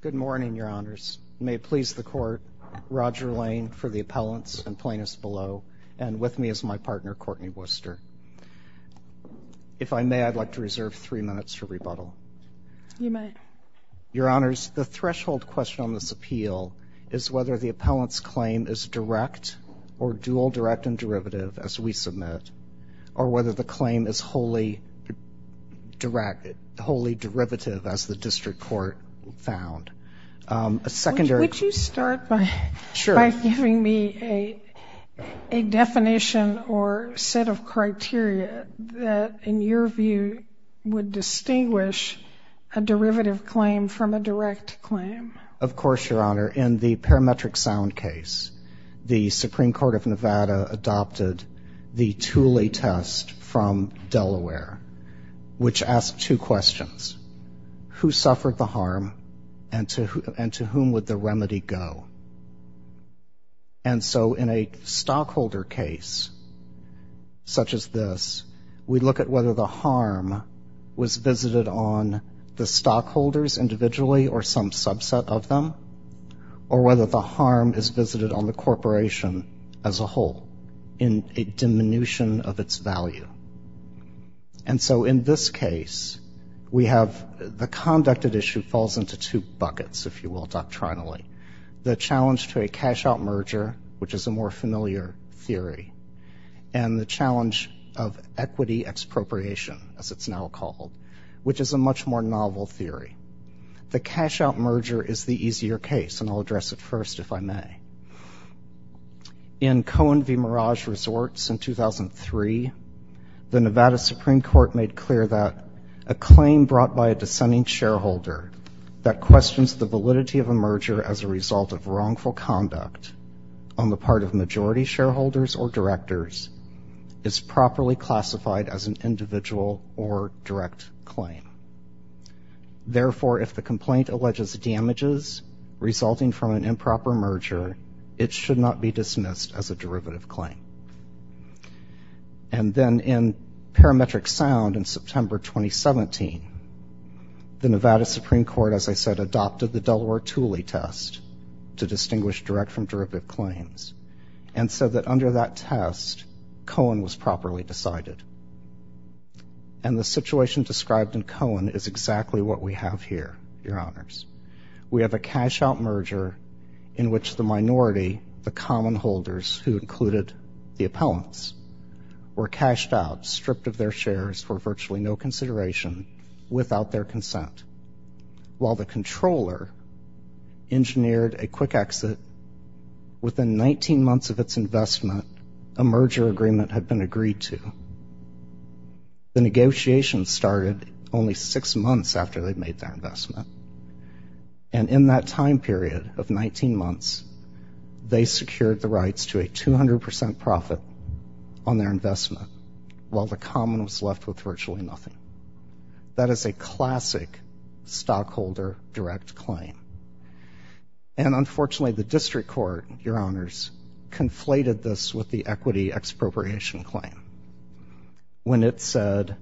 Good morning, Your Honors. May it please the Court, Roger Lane for the appellants and plaintiffs below, and with me is my partner Courtney Worcester. If I may, I'd like to reserve three minutes for rebuttal. You may. Your Honors, the threshold question on this appeal is whether the appellant's claim is direct or dual direct and derivative as we submit, or whether the claim is wholly direct, wholly derivative as the District Court found. A secondary... Would you start by giving me a definition or set of criteria that, in your view, would distinguish a derivative claim from a direct claim? Of course, Your Honor. In the parametric sound case, the Supreme Court of Nevada adopted the Thule test from Delaware, which asked two questions. Who suffered the harm, and to whom would the remedy go? And so in a stockholder case such as this, we look at whether the harm was visited on the stockholders individually or some subset of them, or whether the harm is visited on the corporation as a whole in a case. And so in this case, we have the conducted issue falls into two buckets, if you will, doctrinally. The challenge to a cash-out merger, which is a more familiar theory, and the challenge of equity expropriation, as it's now called, which is a much more novel theory. The cash-out merger is the easier case, and I'll address it first, if I may. In Cohen v. Mirage Resorts in 2003, the Nevada Supreme Court made clear that a claim brought by a dissenting shareholder that questions the validity of a merger as a result of wrongful conduct on the part of majority shareholders or directors is properly classified as an individual or direct claim. Therefore, if the complaint alleges damages resulting from an improper merger, it should not be dismissed as a derivative claim. And then in parametric sound in September 2017, the Nevada Supreme Court, as I said, adopted the Delaware Tooley test to distinguish direct from derivative claims, and said that under that test, Cohen was properly decided. And the situation described in Cohen is exactly what we have here, Your Honors. We have a cash-out merger in which the minority, the common holders who included the cash-out, stripped of their shares for virtually no consideration, without their consent. While the controller engineered a quick exit, within 19 months of its investment, a merger agreement had been agreed to. The negotiation started only six months after they made that investment, and in that time period of while the common was left with virtually nothing. That is a classic stockholder direct claim. And unfortunately, the district court, Your Honors, conflated this with the equity expropriation claim. When it said,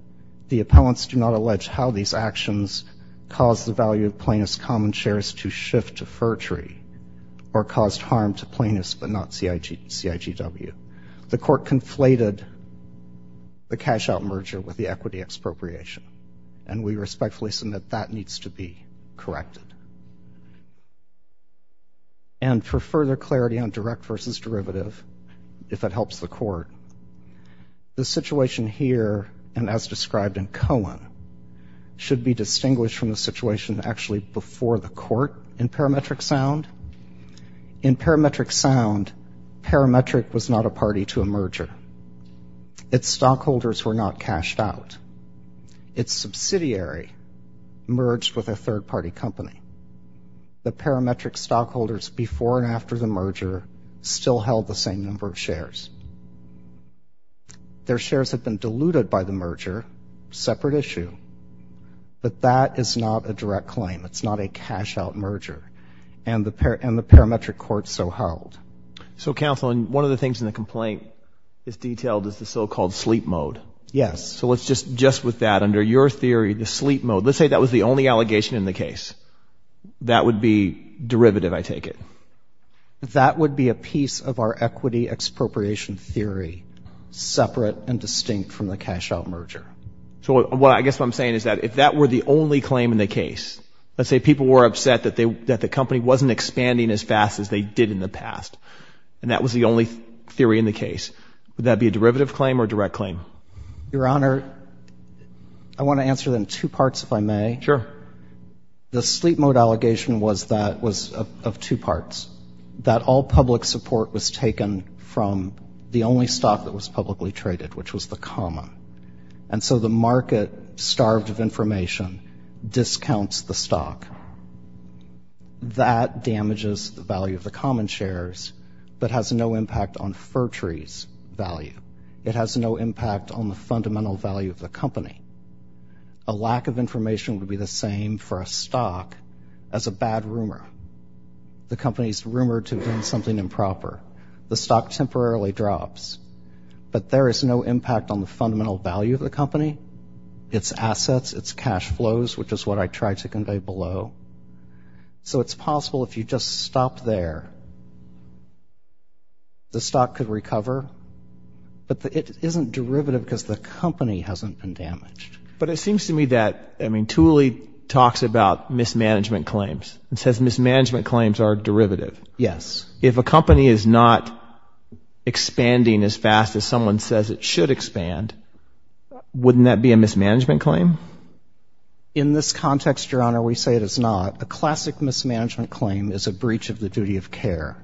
the appellants do not allege how these actions caused the value of plaintiffs' common shares to shift to cash-out merger with the equity expropriation. And we respectfully submit that needs to be corrected. And for further clarity on direct versus derivative, if it helps the court, the situation here, and as described in Cohen, should be distinguished from the situation actually before the court in parametric sound. In parametric sound, parametric was not a party to a merger. Its stockholders were not cashed out. Its subsidiary merged with a third-party company. The parametric stockholders before and after the merger still held the same number of shares. Their shares had been diluted by the merger, separate issue, but that is not a direct claim. It's not a cash-out merger. And the parametric court so held. So counsel, and one of the things in the case is detailed is the so-called sleep mode. Yes. So let's just, just with that, under your theory, the sleep mode, let's say that was the only allegation in the case. That would be derivative, I take it. That would be a piece of our equity expropriation theory, separate and distinct from the cash-out merger. So what I guess what I'm saying is that if that were the only claim in the case, let's say people were upset that they, that the company wasn't expanding as they did in the past. And that was the only theory in the case. Would that be a derivative claim or direct claim? Your Honor, I want to answer them two parts if I may. Sure. The sleep mode allegation was that, was of two parts. That all public support was taken from the only stock that was publicly traded, which was the common. And so the market, starved of information, discounts the stock. That damages the value of the common shares, but has no impact on Fertree's value. It has no impact on the fundamental value of the company. A lack of information would be the same for a stock as a bad rumor. The company's rumored to have done something improper. The stock temporarily drops. But there is no impact on the fundamental value of the company, its assets, its cash flows, which is what I tried to convey below. So it's possible if you just stop there, the stock could recover. But it isn't derivative because the company hasn't been damaged. But it seems to me that, I mean, Thule talks about mismanagement claims. It says mismanagement claims are derivative. Yes. If a company is not expanding as fast as someone says it should expand, wouldn't that be a mismanagement claim? In this context, Your Honor, we say it is not. A classic mismanagement claim is a breach of the duty of care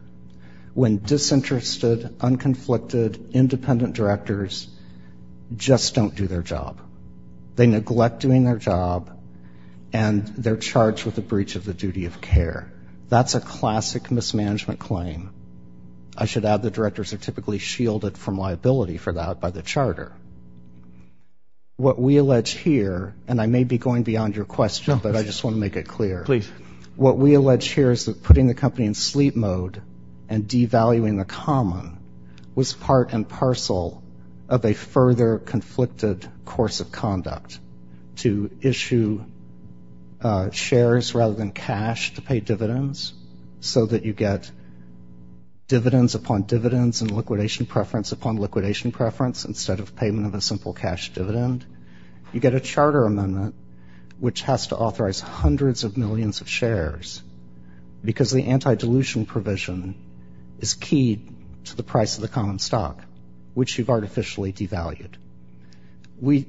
when disinterested, unconflicted, independent directors just don't do their job. They neglect doing their job and they're charged with a breach of the duty of care. That's a classic mismanagement claim. I should add the directors are typically shielded from liability for that by the charter. What we allege here, and I may be going beyond your question, but I just want to make it clear. Please. What we allege here is that putting the company in sleep mode and devaluing the common was part and parcel of a further conflicted course of conduct. To issue shares rather than cash to pay dividends so that you get dividends upon dividends and liquidation preference upon liquidation preference instead of payment of a charter amendment which has to authorize hundreds of millions of shares because the anti-dilution provision is key to the price of the common stock which you've artificially devalued.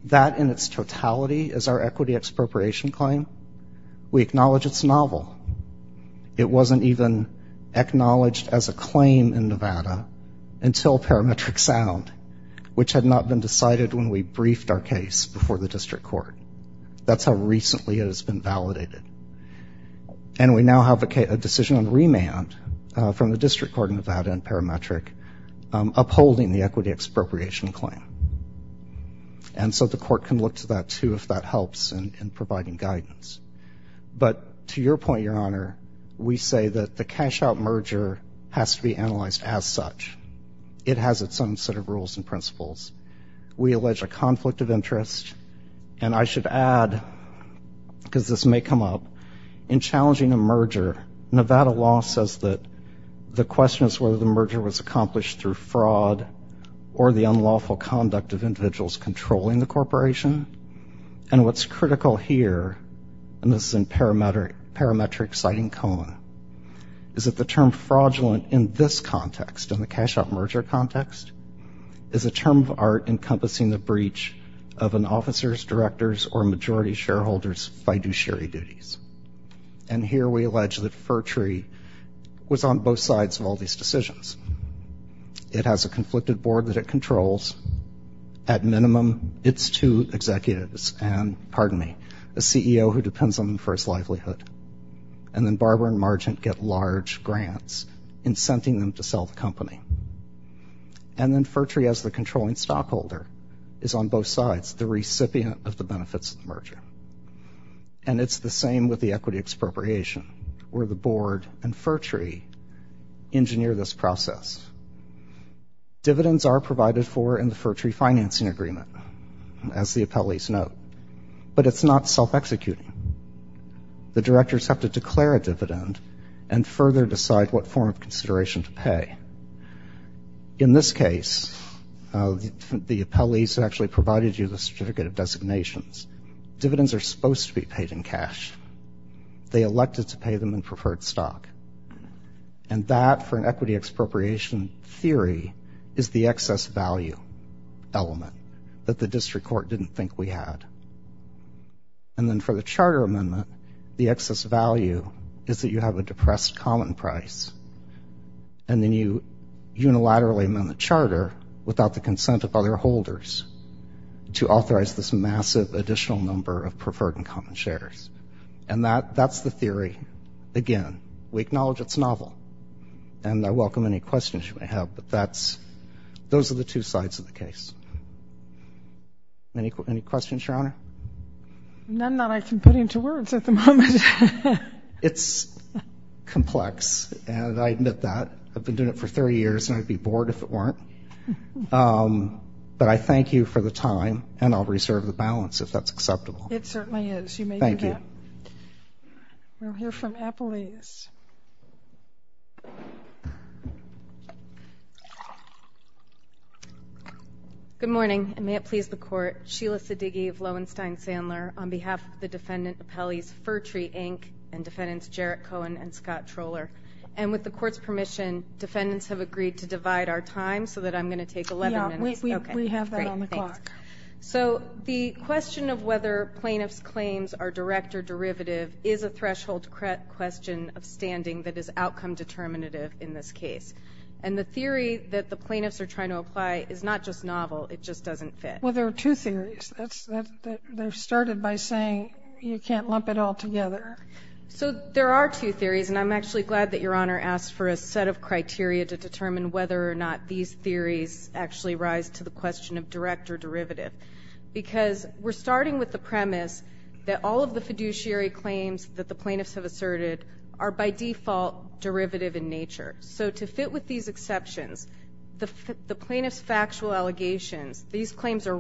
That in its totality is our equity expropriation claim. We acknowledge it's novel. It wasn't even acknowledged as a claim in Nevada until Parametric Sound which had not been decided when we were in court. That's how recently it has been validated. And we now have a decision on remand from the District Court in Nevada and Parametric upholding the equity expropriation claim. And so the court can look to that too if that helps in providing guidance. But to your point, Your Honor, we say that the cash out merger has to be analyzed as such. It has its own set of rules and principles. We allege a conflict of interest. And I should add, because this may come up, in challenging a merger, Nevada law says that the question is whether the merger was accomplished through fraud or the unlawful conduct of individuals controlling the corporation. And what's critical here, and this is in Parametric Parametric citing Cohen, is that the term fraudulent in this context, in the encompassing the breach of an officer's, director's, or majority shareholder's fiduciary duties. And here we allege that Furtree was on both sides of all these decisions. It has a conflicted board that it controls. At minimum, it's two executives and, pardon me, a CEO who depends on them for his livelihood. And then Barber and Margent get large grants incenting them to sell the company. And then Furtree, as the controlling stockholder, is on both sides, the recipient of the benefits of the merger. And it's the same with the equity expropriation, where the board and Furtree engineer this process. Dividends are provided for in the Furtree financing agreement, as the appellees note, but it's not self-executing. The directors have to declare a dividend and further decide what form of consideration to pay. In this case, the appellees actually provided you the certificate of designations. Dividends are supposed to be paid in cash. They elected to pay them in preferred stock. And that, for an equity expropriation theory, is the excess value element that the district court didn't think we had. And then for the Charter Amendment, the depressed common price. And then you unilaterally amend the Charter without the consent of other holders to authorize this massive additional number of preferred and common shares. And that, that's the theory. Again, we acknowledge it's novel. And I welcome any questions you may have, but that's, those are the two sides of the case. Any questions, Your Honor? None that I can put into words at the moment. It's complex, and I admit that. I've been doing it for 30 years, and I'd be bored if it weren't. But I thank you for the time, and I'll reserve the balance if that's acceptable. It certainly is. Thank you. We'll hear from appellees. Good morning, and may it please the Court. Sheila Siddigy of Lowenstein Sandler, on behalf of the Pertree, Inc., and defendants Jarrett Cohen and Scott Trohler. And with the Court's permission, defendants have agreed to divide our time so that I'm going to take 11 minutes. Yeah, we have that on the clock. So the question of whether plaintiffs' claims are direct or derivative is a threshold question of standing that is outcome determinative in this case. And the theory that the plaintiffs are trying to apply is not just novel, it just doesn't fit. Well, there are two by saying you can't lump it all together. So there are two theories, and I'm actually glad that Your Honor asked for a set of criteria to determine whether or not these theories actually rise to the question of direct or derivative. Because we're starting with the premise that all of the fiduciary claims that the plaintiffs have asserted are by default derivative in nature. So to fit with these exceptions, the plaintiffs' factual allegations, these claims are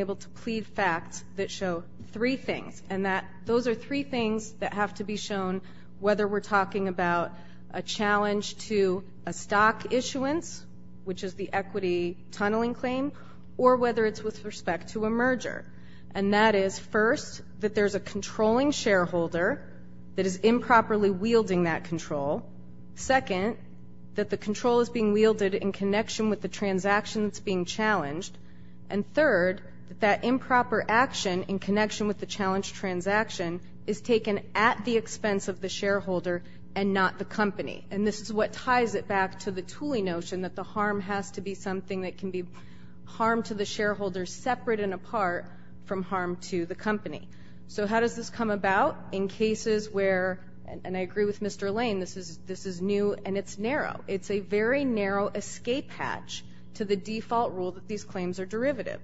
able to plead facts that show three things, and that those are three things that have to be shown whether we're talking about a challenge to a stock issuance, which is the equity tunneling claim, or whether it's with respect to a merger. And that is, first, that there's a controlling shareholder that is improperly wielding that control. Second, that the control is being wielded in connection with the transaction that's being challenged. And third, that improper action in connection with the challenged transaction is taken at the expense of the shareholder and not the company. And this is what ties it back to the Tooley notion that the harm has to be something that can be harmed to the shareholder separate and apart from harm to the company. So how does this come about? In cases where, and I agree with Mr. Lane, this is new and it's narrow. It's a very narrow escape hatch to the default rule that these claims are derivative.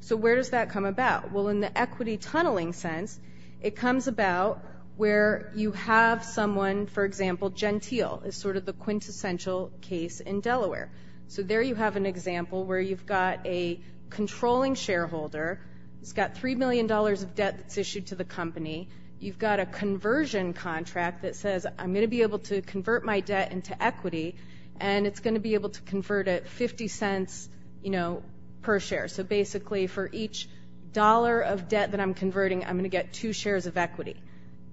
So where does that come about? Well, in the equity tunneling sense, it comes about where you have someone, for example, Gentile is sort of the quintessential case in Delaware. So there you have an example where you've got a controlling shareholder, it's got three million dollars of debt that's issued to the company, you've got a conversion contract that says, I'm going to be able to convert my debt into equity, and it's going to be able to convert it 50 cents, you know, per share. So basically for each dollar of debt that I'm converting, I'm going to get two shares of equity.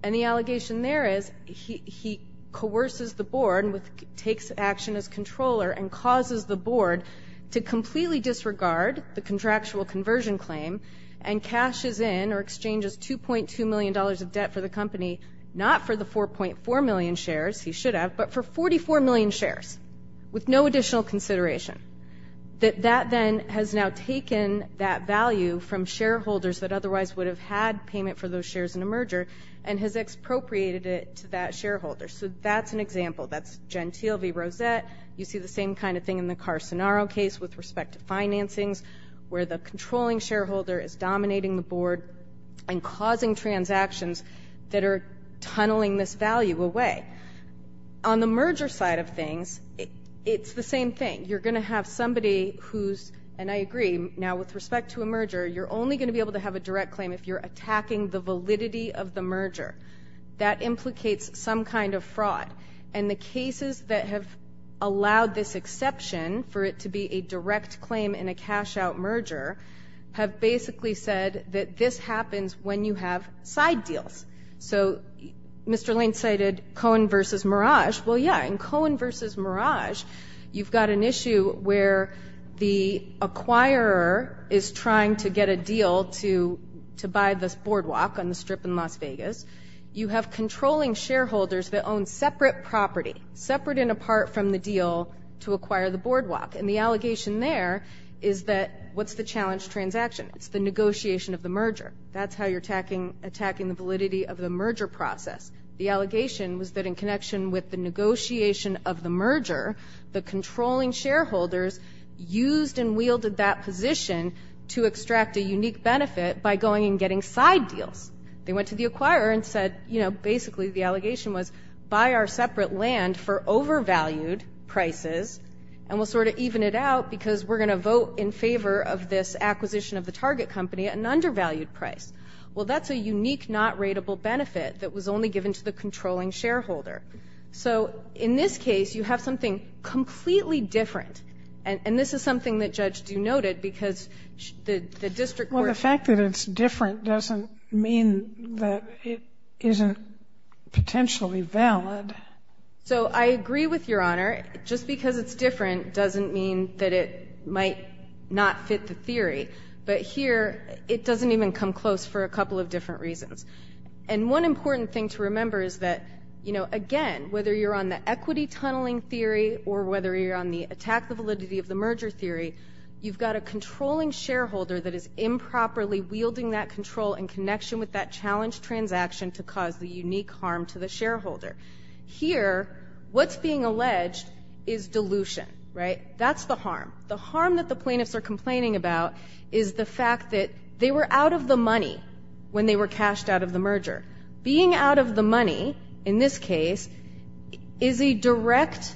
And the allegation there is he coerces the board, takes action as controller, and causes the board to completely disregard the contractual conversion claim and cashes in or exchanges 2.2 million dollars of debt for the company, not for the 4.4 million shares, he should have, but for 44 million shares, with no additional consideration. That that then has now taken that value from shareholders that otherwise would have had payment for those shares in a merger, and has expropriated it to that shareholder. So that's an example. That's Gentile v. Rosette. You see the same kind of thing in the Carcenaro case with respect to financings, where the controlling shareholder is dominating the board and causing transactions that are tunneling this value away. On the merger side of things, it's the same thing. You're going to have somebody who's, and I agree now with respect to a merger, you're only going to be able to have a direct claim if you're attacking the validity of the merger. That implicates some kind of fraud, and the cases that have allowed this exception for it to be a direct claim in a cash-out merger have basically said that this happens when you have side deals. So Mr. Lane cited Cohen v. Mirage. Well, yeah, in Cohen v. Mirage, you've got an issue where the acquirer is trying to get a deal to to buy this boardwalk on the strip in Las Vegas. You have controlling shareholders that own separate property, separate and apart from the deal, to acquire the that what's the challenge transaction? It's the negotiation of the merger. That's how you're attacking attacking the validity of the merger process. The allegation was that in connection with the negotiation of the merger, the controlling shareholders used and wielded that position to extract a unique benefit by going and getting side deals. They went to the acquirer and said, you know, basically the allegation was, buy our separate land for overvalued prices, and we'll sort of even it out because we're going to vote in favor of this acquisition of the target company at an undervalued price. Well, that's a unique, not rateable benefit that was only given to the controlling shareholder. So in this case, you have something completely different. And this is something that Judge Due noted because the district court. Well, the fact that it's different doesn't mean that it isn't potentially valid. So I agree with your honor. Just because it's different doesn't mean that it might not fit the theory. But here it doesn't even come close for a couple of different reasons. And one important thing to remember is that, you know, again, whether you're on the equity tunneling theory or whether you're on the attack, the validity of the merger theory, you've got a controlling shareholder that is improperly wielding that control in connection with that challenge transaction to cause the unique harm to the shareholder. Here, what's being alleged is dilution, right? That's the harm. The harm that the plaintiffs are complaining about is the fact that they were out of the money when they were cashed out of the merger. Being out of the money, in this case, is a direct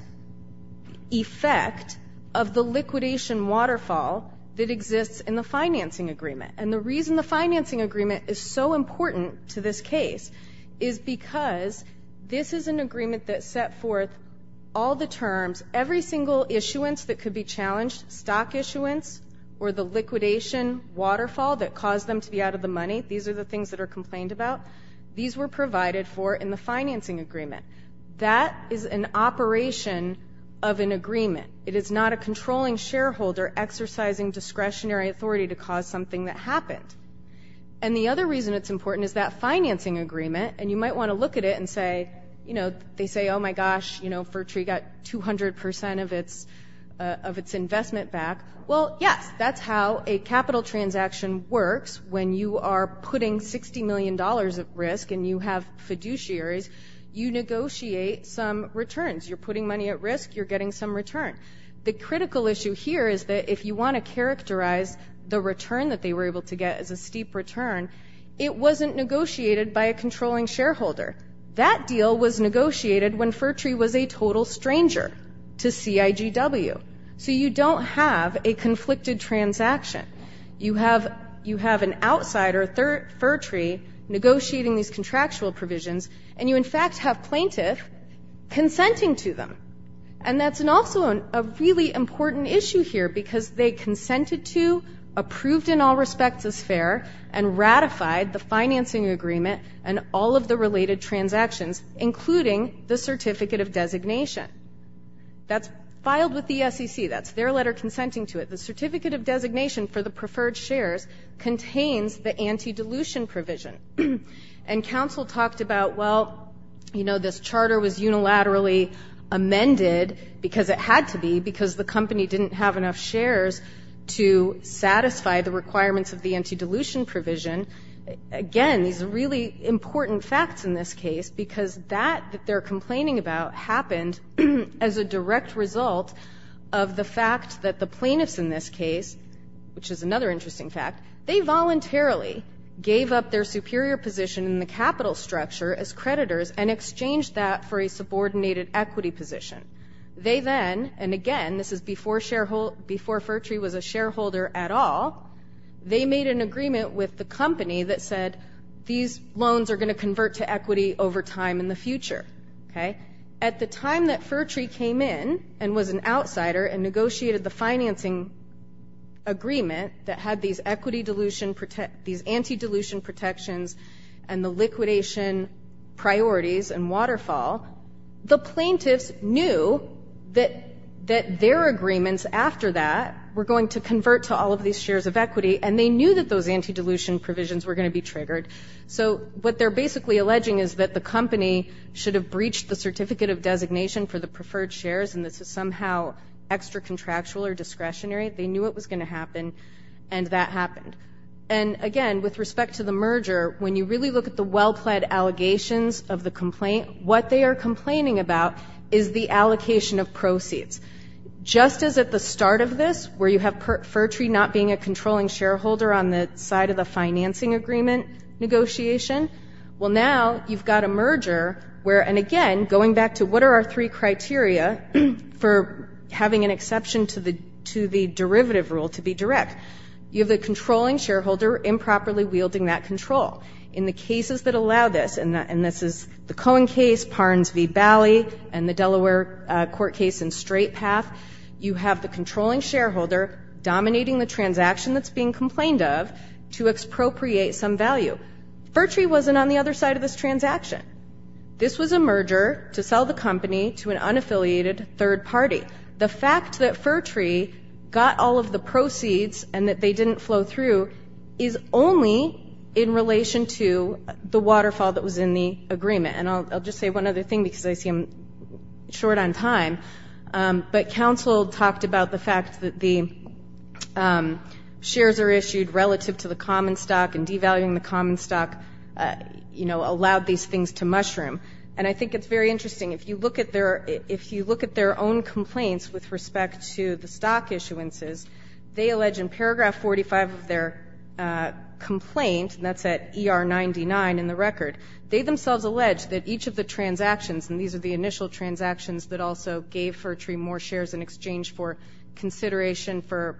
effect of the liquidation waterfall that exists in the financing agreement. And the reason the financing agreement is so important to this case is because this is an agreement that set forth all the terms, every single issuance that could be challenged, stock issuance, or the liquidation waterfall that caused them to be out of the money. These are the things that are complained about. These were provided for in the financing agreement. That is an operation of an agreement. It is not a controlling shareholder exercising discretionary authority to cause something that happened. And the other reason it's important is that financing agreement, and you might want to look at it and say, you know, they say, oh my gosh, you know, Fertree got 200% of its investment back. Well, yes, that's how a capital transaction works. When you are putting 60 million dollars at risk and you have fiduciaries, you negotiate some returns. You're putting money at risk, you're getting some return. The critical issue here is that if you want to characterize the return that they were able to get as a steep return, it wasn't negotiated by a controlling shareholder. That deal was negotiated when Fertree was a total stranger to CIGW. So you don't have a conflicted transaction. You have an outsider, Fertree, negotiating these contractual provisions, and you in fact have plaintiff consenting to them. And that's also a really important issue here because they consented to, approved in all respects as fair, and ratified the financing agreement and all of the related transactions, including the certificate of designation. That's filed with the SEC. That's their letter consenting to it. The certificate of designation for the preferred shares contains the anti-dilution provision. And though this charter was unilaterally amended, because it had to be, because the company didn't have enough shares to satisfy the requirements of the anti-dilution provision, again, these are really important facts in this case because that that they're complaining about happened as a direct result of the fact that the plaintiffs in this case, which is another interesting fact, they voluntarily gave up their superior position in the capital structure as exchange that for a subordinated equity position. They then, and again, this is before Fertree was a shareholder at all, they made an agreement with the company that said these loans are going to convert to equity over time in the future. Okay? At the time that Fertree came in and was an outsider and negotiated the financing agreement that had these equity dilution these anti-dilution protections and the liquidation priorities and waterfall, the plaintiffs knew that their agreements after that were going to convert to all of these shares of equity and they knew that those anti-dilution provisions were going to be triggered. So what they're basically alleging is that the company should have breached the certificate of designation for the preferred shares and this is somehow extra contractual or discretionary. They knew it was going to happen and that happened. And again, with respect to the merger, when you really look at the well-pled allegations of the complaint, what they are complaining about is the allocation of proceeds. Just as at the start of this, where you have Fertree not being a controlling shareholder on the side of the financing agreement negotiation, well now you've got a merger where, and again, going back to what are our three criteria for having an exception to the derivative rule to be direct, you have the controlling shareholder improperly wielding that control. In the cases that allow this, and this is the Cohen case, Parnes v. Bally, and the Delaware court case in Straight Path, you have the controlling shareholder dominating the transaction that's being complained of to expropriate some value. Fertree wasn't on the other side of this transaction. This was a merger to sell the company to an unaffiliated third party. The fact that Fertree got all of the proceeds and that they didn't flow through is only in relation to the waterfall that was in the agreement. And I'll just say one other thing because I see I'm short on time, but counsel talked about the fact that the shares are issued relative to the common stock and devaluing the common stock, you know, allowed these to mushroom. And I think it's very interesting, if you look at their, if you look at their own complaints with respect to the stock issuances, they allege in paragraph 45 of their complaint, and that's at ER 99 in the record, they themselves allege that each of the transactions, and these are the initial transactions that also gave Fertree more shares in exchange for consideration for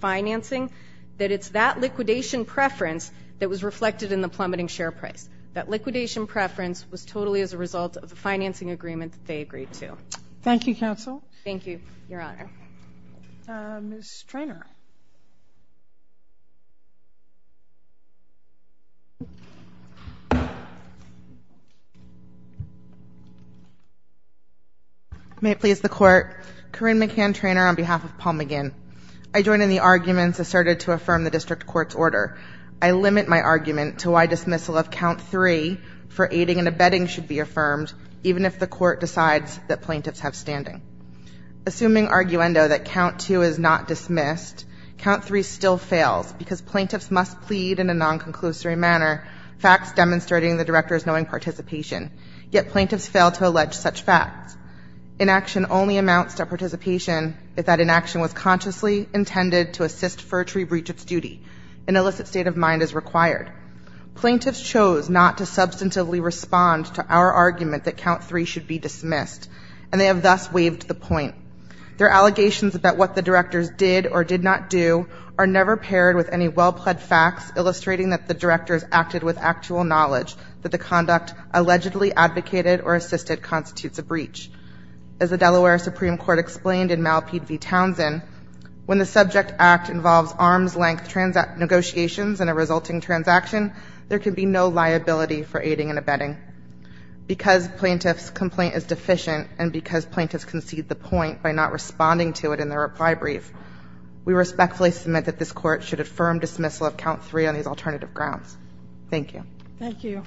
financing, that it's that liquidation preference that was totally as a result of the financing agreement that they agreed to. Thank you, counsel. Thank you, Your Honor. Ms. Treanor. May it please the Court, Corrine McCann Treanor on behalf of Paul McGinn. I join in the arguments asserted to affirm the district court's order. I limit my argument to the fact that an abetting should be affirmed, even if the court decides that plaintiffs have standing. Assuming arguendo that count two is not dismissed, count three still fails because plaintiffs must plead in a non-conclusory manner, facts demonstrating the director's knowing participation, yet plaintiffs fail to allege such facts. Inaction only amounts to participation if that inaction was consciously intended to assist Fertree breach its duty. An illicit state of mind is required. Plaintiffs chose not to ostensibly respond to our argument that count three should be dismissed, and they have thus waived the point. Their allegations about what the directors did or did not do are never paired with any well-pled facts illustrating that the directors acted with actual knowledge that the conduct allegedly advocated or assisted constitutes a breach. As the Delaware Supreme Court explained in Malpied v. Townsend, when the subject act involves arm's-length negotiations and a resulting transaction, there can be no liability for aiding and abetting. Because plaintiff's complaint is deficient and because plaintiffs concede the point by not responding to it in their reply brief, we respectfully submit that this court should affirm dismissal of count three on these alternative grounds. Thank you. Thank you.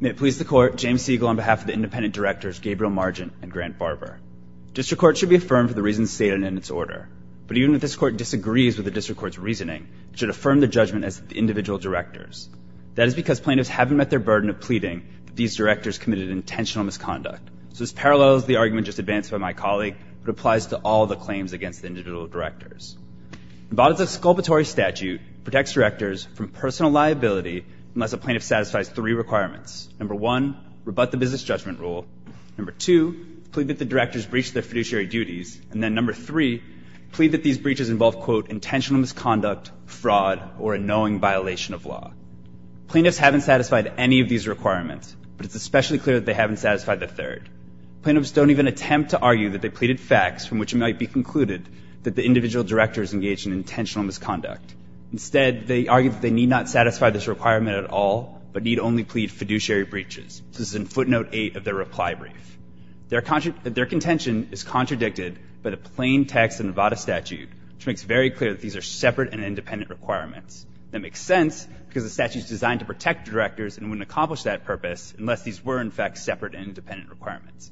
May it please the Court, James Siegel on behalf of the independent directors Gabriel Margent and Grant Barber. District Court should be affirmed for the reasons stated in its order, but even if this Court disagrees with the District Court's reasoning, it should affirm the judgment as the individual directors. That is because plaintiffs haven't met their burden of pleading that these directors committed intentional misconduct. So this parallels the argument just advanced by my colleague, but applies to all the claims against the individual directors. The bodice of exculpatory statute protects directors from personal liability unless a plaintiff satisfies three requirements. Number one, rebut the business judgment rule. Number two, plead that the directors breached their fiduciary duties. And then number three, plead that these breaches involve, quote, intentional misconduct, fraud, or a knowing violation of law. Plaintiffs haven't satisfied any of these requirements, but it's especially clear that they haven't satisfied the third. Plaintiffs don't even attempt to argue that they pleaded facts from which it might be concluded that the individual directors engaged in intentional misconduct. Instead, they argue that they need not satisfy this requirement at all, but need only plead fiduciary breaches. This is in footnote eight of their reply brief. Their contention is contradicted by the plain text of the bodice statute, which makes very clear that these are separate and independent requirements. That makes sense because the statute is designed to protect directors and wouldn't accomplish that purpose unless these were, in fact, separate and independent requirements.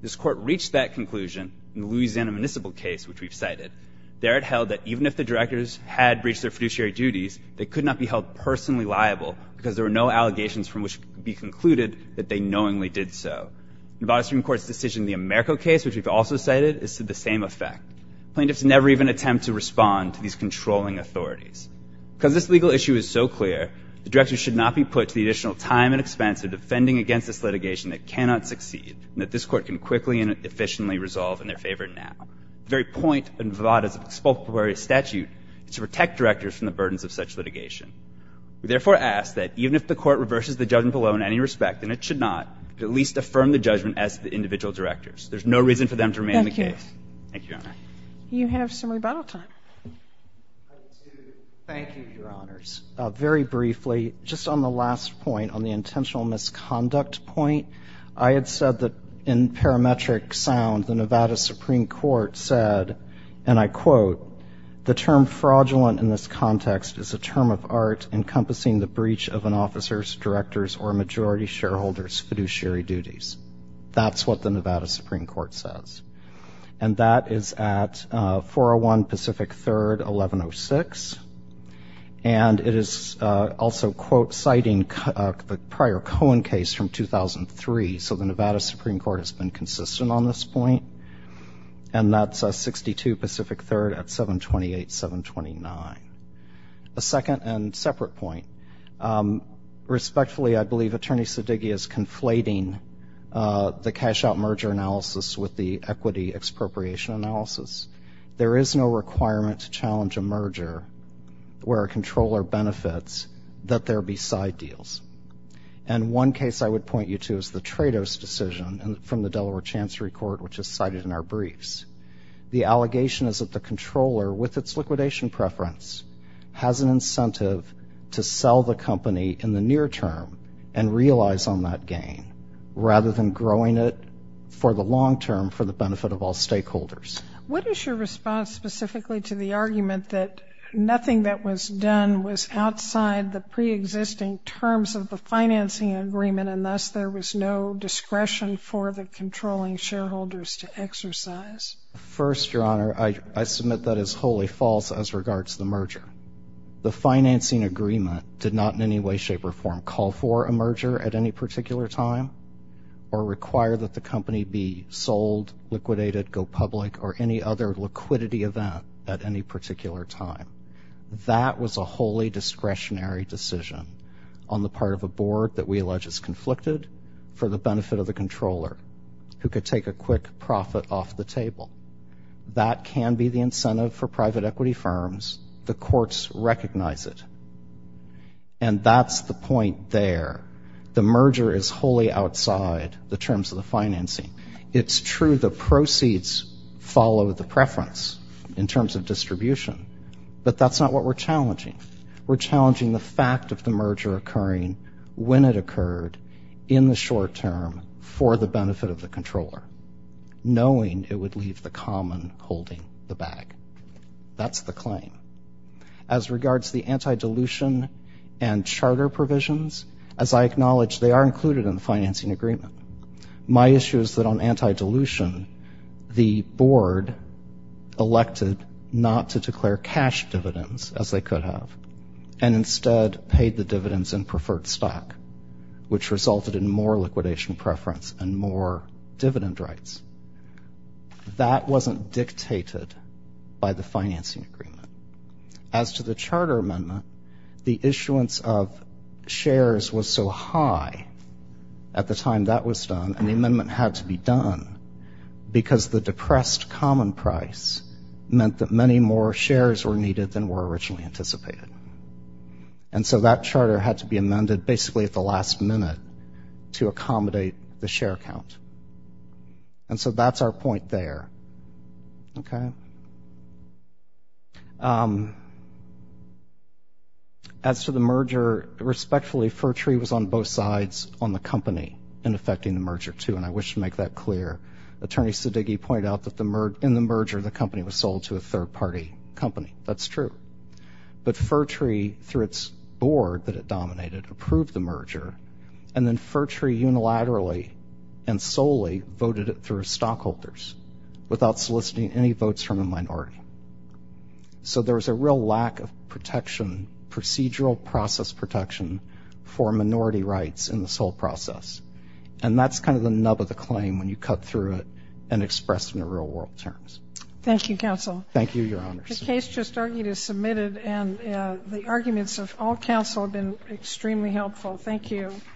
This court reached that conclusion in the Louisiana Municipal case, which we've cited. There it held that even if the directors had breached their fiduciary duties, they could not be held personally liable because there were no allegations from which it could be concluded that they knowingly did so. Nevada Supreme Court's decision in the Americo case, which we've also cited, is to the same effect. Plaintiffs never even attempt to respond to these controlling authorities. Because this legal issue is so clear, the directors should not be put to the additional time and expense of defending against this litigation that cannot succeed, and that this court can quickly and efficiently resolve in their favor now. The very point of Nevada's expulsory statute is to protect directors from the burdens of such litigation. We therefore ask that even if the court reverses the judgment below in any respect, then it should not, but at least affirm the judgment as to the individual directors. There's no reason for them to remain in the case. Thank you. Thank you, Your Honor. You have some rebuttal time. I would say thank you, Your Honors. Very briefly, just on the last point, on the intentional misconduct point, I had said that in parametric sound, the Nevada Supreme Court said, and I quote, the term fraudulent in this context is a term of art encompassing the breach of an officer's, director's, or a majority shareholder's fiduciary duties. That's what the Nevada Supreme Court says. And that is at 401 Pacific 3rd, 1106. And it is also, quote, citing the prior Cohen case from 2003. So the Nevada Supreme Court has been consistent on this point. And that's a 62 Pacific 3rd at 728, 729. A second and separate point. Respectfully, I believe Attorney Sedighi is conflating the cash out merger analysis with the equity expropriation analysis. There is no requirement to challenge a merger where a controller benefits that there be side deals. And one case I would point you to is the Trados decision from the Delaware Chancery Court, which is cited in our briefs. The allegation is that the controller, with its liquidation preference, has an incentive to sell the company in the near term and realize on that gain, rather than growing it for the long term for the benefit of all Nothing that was done was outside the pre-existing terms of the financing agreement, and thus there was no discretion for the controlling shareholders to exercise. First, Your Honor, I submit that is wholly false as regards to the merger. The financing agreement did not in any way, shape, or form call for a merger at any particular time, or require that the company be sold, liquidated, go public, or any other liquidity event at any particular time. That was a wholly discretionary decision on the part of a board that we allege is conflicted for the benefit of the controller, who could take a quick profit off the table. That can be the incentive for private equity firms. The courts recognize it. And that's the point there. The merger is wholly outside the terms of the financing. It's true the proceeds follow the preference in terms of distribution, but that's not what we're challenging. We're challenging the fact of the merger occurring when it occurred in the short term for the benefit of the controller, knowing it would leave the common holding the bag. That's the claim. As regards the anti-dilution and charter provisions, as I acknowledge, they are included in the financing agreement. My issue is that on not to declare cash dividends as they could have, and instead paid the dividends in preferred stock, which resulted in more liquidation preference and more dividend rights. That wasn't dictated by the financing agreement. As to the charter amendment, the issuance of shares was so high at the time that was done, and the amendment had to be done, because the depressed common price meant that many more shares were needed than were originally anticipated. And so that charter had to be amended basically at the last minute to accommodate the share count. And so that's our point there. Okay. As for the merger, respectfully, Fertree was on both sides on the company in the merger, too, and I wish to make that clear. Attorney Siddiqi pointed out that in the merger, the company was sold to a third-party company. That's true. But Fertree, through its board that it dominated, approved the merger, and then Fertree unilaterally and solely voted it through stockholders without soliciting any votes from a minority. So there was a real lack of protection, procedural process protection, for minority rights in this whole process. And that's kind of the nub of the claim when you cut through it and express it in real-world terms. Thank you, counsel. Thank you, Your Honor. The case just argued is submitted, and the arguments of all counsel have been extremely helpful. Thank you.